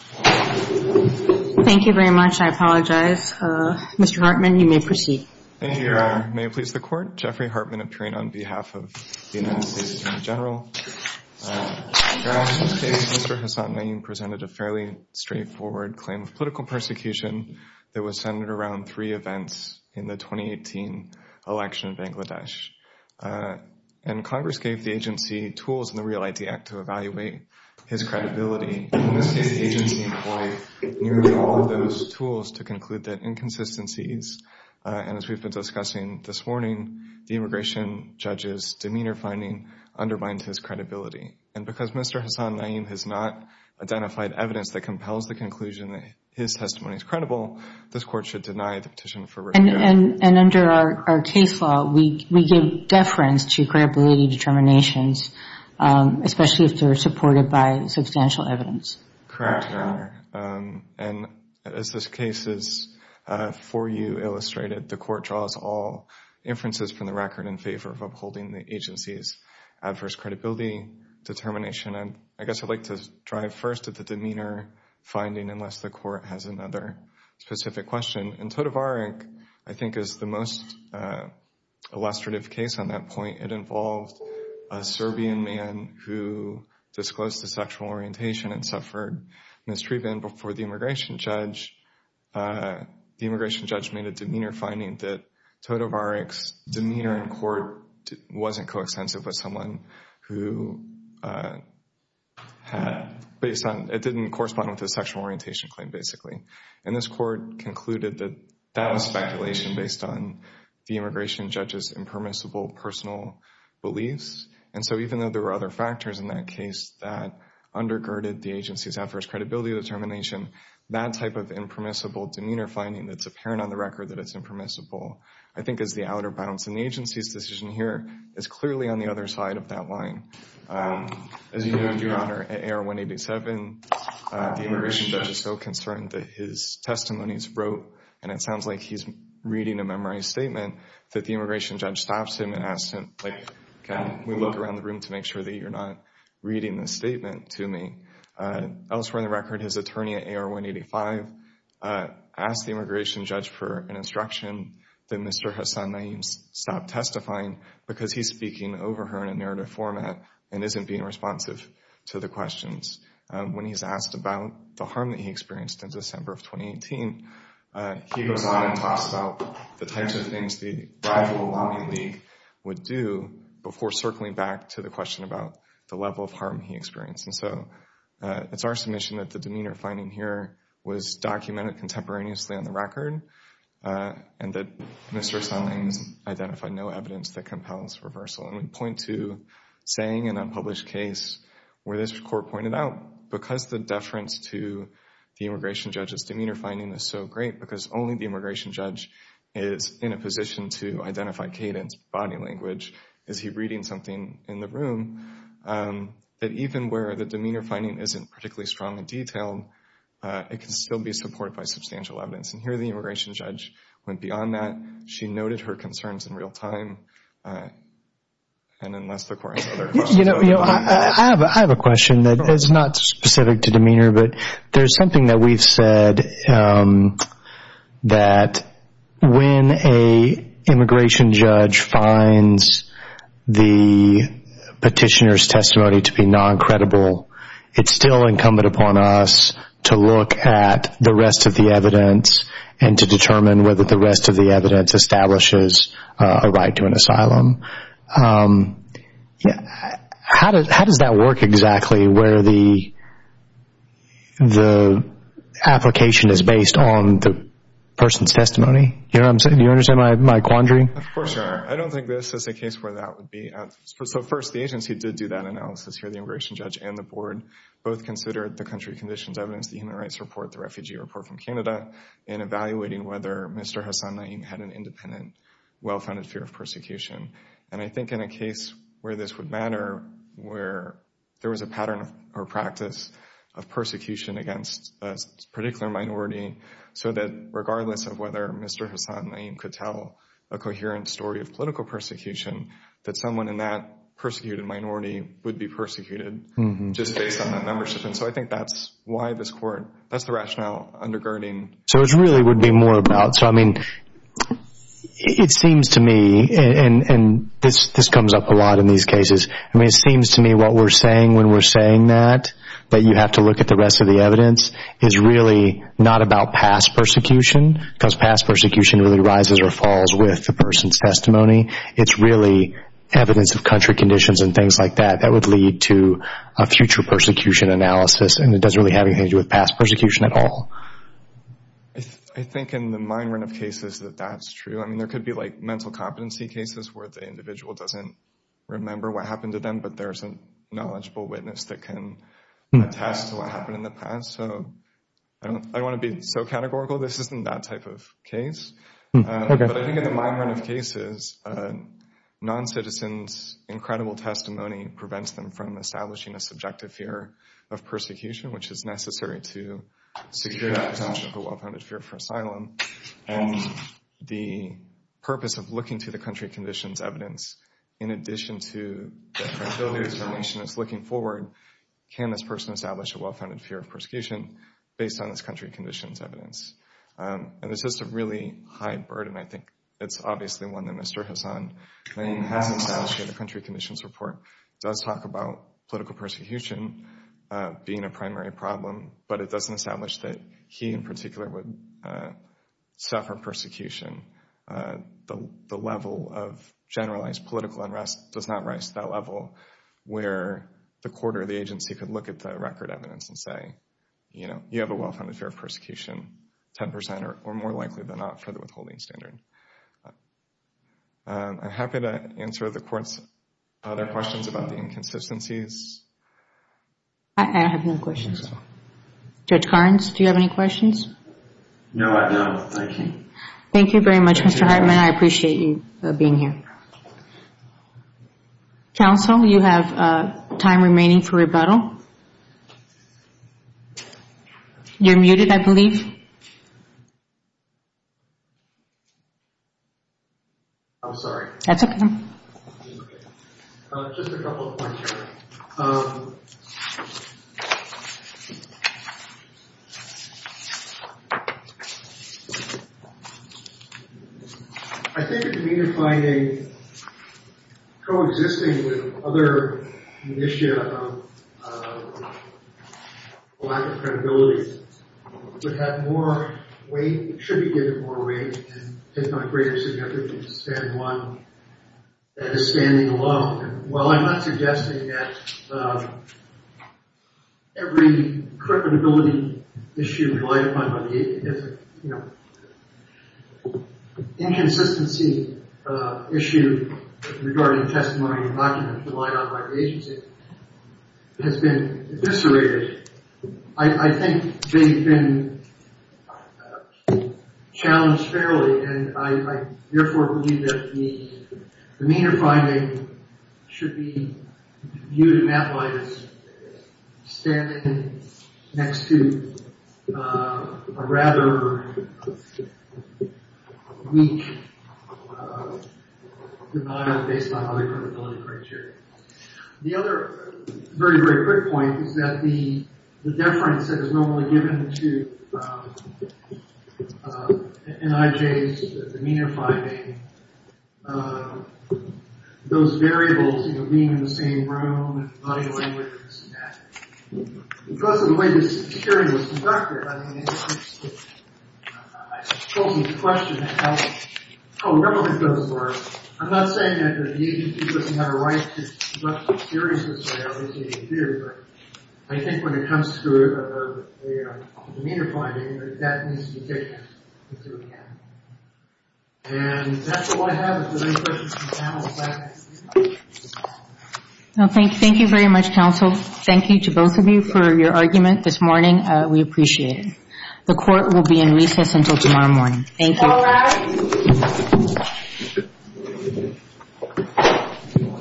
Thank you very much. I apologize. Mr. Hartman, you may proceed. Thank you, Your Honor. May it please the Court? Jeffrey Hartman, appearing on behalf of the United States Attorney General. Your Honor, in this case, Mr. Hasan-Nayem presented a fairly straightforward claim of political persecution that was centered around three events in the 2018 election of Bangladesh. And Congress gave the agency tools in the REAL ID Act to evaluate his credibility. In this case, the agency employed nearly all of those tools to conclude that inconsistencies. And as we've been discussing this morning, the immigration judge's demeanor finding undermined his credibility. And because Mr. Hasan-Nayem has not identified evidence that compels the conclusion that his testimony is credible, this Court should deny the petition for review. And under our case law, we give deference to credibility determinations, especially if they're supported by substantial evidence. Correct, Your Honor. And as this case is for you illustrated, the Court draws all inferences from the record in favor of upholding the agency's adverse credibility determination. And I guess I'd like to drive first at the demeanor finding unless the Court has another specific question. And Todovarik, I think, is the most illustrative case on that point. It involved a Serbian man who disclosed his sexual orientation and suffered mistreatment before the immigration judge. The immigration judge made a demeanor finding that Todovarik's demeanor in court wasn't coextensive with someone who had— it didn't correspond with his sexual orientation claim, basically. And this Court concluded that that was speculation based on the immigration judge's impermissible personal beliefs. And so even though there were other factors in that case that undergirded the agency's adverse credibility determination, that type of impermissible demeanor finding that's apparent on the record that it's impermissible, I think, is the outer bounds. And the agency's decision here is clearly on the other side of that line. As you know, Your Honor, at AR-187, the immigration judge is so concerned that his testimonies wrote— and it sounds like he's reading a memorized statement—that the immigration judge stops him and asks him, like, can we look around the room to make sure that you're not reading this statement to me? Elsewhere in the record, his attorney at AR-185 asked the immigration judge for an instruction that Mr. Hasan Naeem stop testifying because he's speaking over her in a narrative format and isn't being responsive to the questions. When he's asked about the harm that he experienced in December of 2018, he goes on and talks about the types of things the rival lobby league would do before circling back to the question about the level of harm he experienced. And so it's our submission that the demeanor finding here was documented contemporaneously on the record and that Mr. Hasan Naeem has identified no evidence that compels reversal. And we point to saying in an unpublished case where this court pointed out, because the deference to the immigration judge's demeanor finding is so great, because only the immigration judge is in a position to identify cadence, body language, is he reading something in the room, that even where the demeanor finding isn't particularly strong in detail, it can still be supported by substantial evidence. And here the immigration judge went beyond that. She noted her concerns in real time. And unless the court has other questions. I have a question that is not specific to demeanor, but there's something that we've said that when an immigration judge finds the petitioner's testimony to be non-credible, it's still incumbent upon us to look at the rest of the evidence and to determine whether the rest of the evidence establishes a right to an asylum. How does that work exactly where the application is based on the person's testimony? Do you understand my quandary? Of course, Your Honor. I don't think this is a case where that would be. So first, the agency did do that analysis here. The immigration judge and the board both considered the country conditions evidence, the human rights report, the refugee report from Canada, in evaluating whether Mr. Hassan Naim had an independent, well-founded fear of persecution. And I think in a case where this would matter, where there was a pattern or practice of persecution against a particular minority, so that regardless of whether Mr. Hassan Naim could tell a coherent story of political persecution, that someone in that persecuted minority would be persecuted just based on that membership. And so I think that's why this court, that's the rationale undergirding. So it really would be more about, so I mean, it seems to me, and this comes up a lot in these cases, I mean, it seems to me what we're saying when we're saying that, that you have to look at the rest of the evidence, is really not about past persecution, because past persecution really rises or falls with the person's testimony. It's really evidence of country conditions and things like that. That would lead to a future persecution analysis, and it doesn't really have anything to do with past persecution at all. I think in the minority of cases that that's true. I mean, there could be like mental competency cases where the individual doesn't remember what happened to them, but there's a knowledgeable witness that can attest to what happened in the past. So I don't want to be so categorical. This isn't that type of case. But I think in the minority of cases, non-citizens' incredible testimony prevents them from establishing a subjective fear of persecution, which is necessary to secure that presumption of a well-founded fear for asylum. And the purpose of looking to the country conditions evidence, in addition to the credibility determination that's looking forward, can this person establish a well-founded fear of persecution based on this country conditions evidence? And this is a really high burden, I think. It's obviously one that Mr. Hasan has established in the country conditions report. It does talk about political persecution being a primary problem, but it doesn't establish that he in particular would suffer persecution. The level of generalized political unrest does not rise to that level where the court or the agency could look at the record evidence and say, you know, you have a well-founded fear of persecution, 10% or more likely than not for the withholding standard. I'm happy to answer the court's other questions about the inconsistencies. I have no questions. Judge Carnes, do you have any questions? No, I don't. Thank you. Thank you very much, Mr. Hartman. I appreciate you being here. Counsel, you have time remaining for rebuttal. You're muted, I believe. I'm sorry. That's okay. Just a couple of points here. I think a community finding coexisting with other initiative of lack of credibility would have more weight, should be given more weight, and take on a greater significance than one that is standing alone. Well, I'm not suggesting that every credibility issue relied upon by the agency, you know, inconsistency issue regarding testimony and documents relied upon by the agency, has been eviscerated. I think they've been challenged fairly, and I therefore believe that the meaner finding should be viewed in that light as standing next to a rather weak denial based on other credibility criteria. The other very, very quick point is that the deference that is normally given to NIJ's meaner finding, those variables, you know, being in the same room, body language, and that. Because of the way this hearing was conducted, I mean, I suppose it's a question of how relevant those were. I'm not saying that the agency doesn't have a right to look seriously at how these things are viewed, but I think when it comes to a meaner finding, that needs to be taken into account. And that's all I have. If there are any questions from the panel, please ask. Thank you very much, counsel. Thank you to both of you for your argument this morning. We appreciate it. The Court will be in recess until tomorrow morning. Thank you. Thank you all.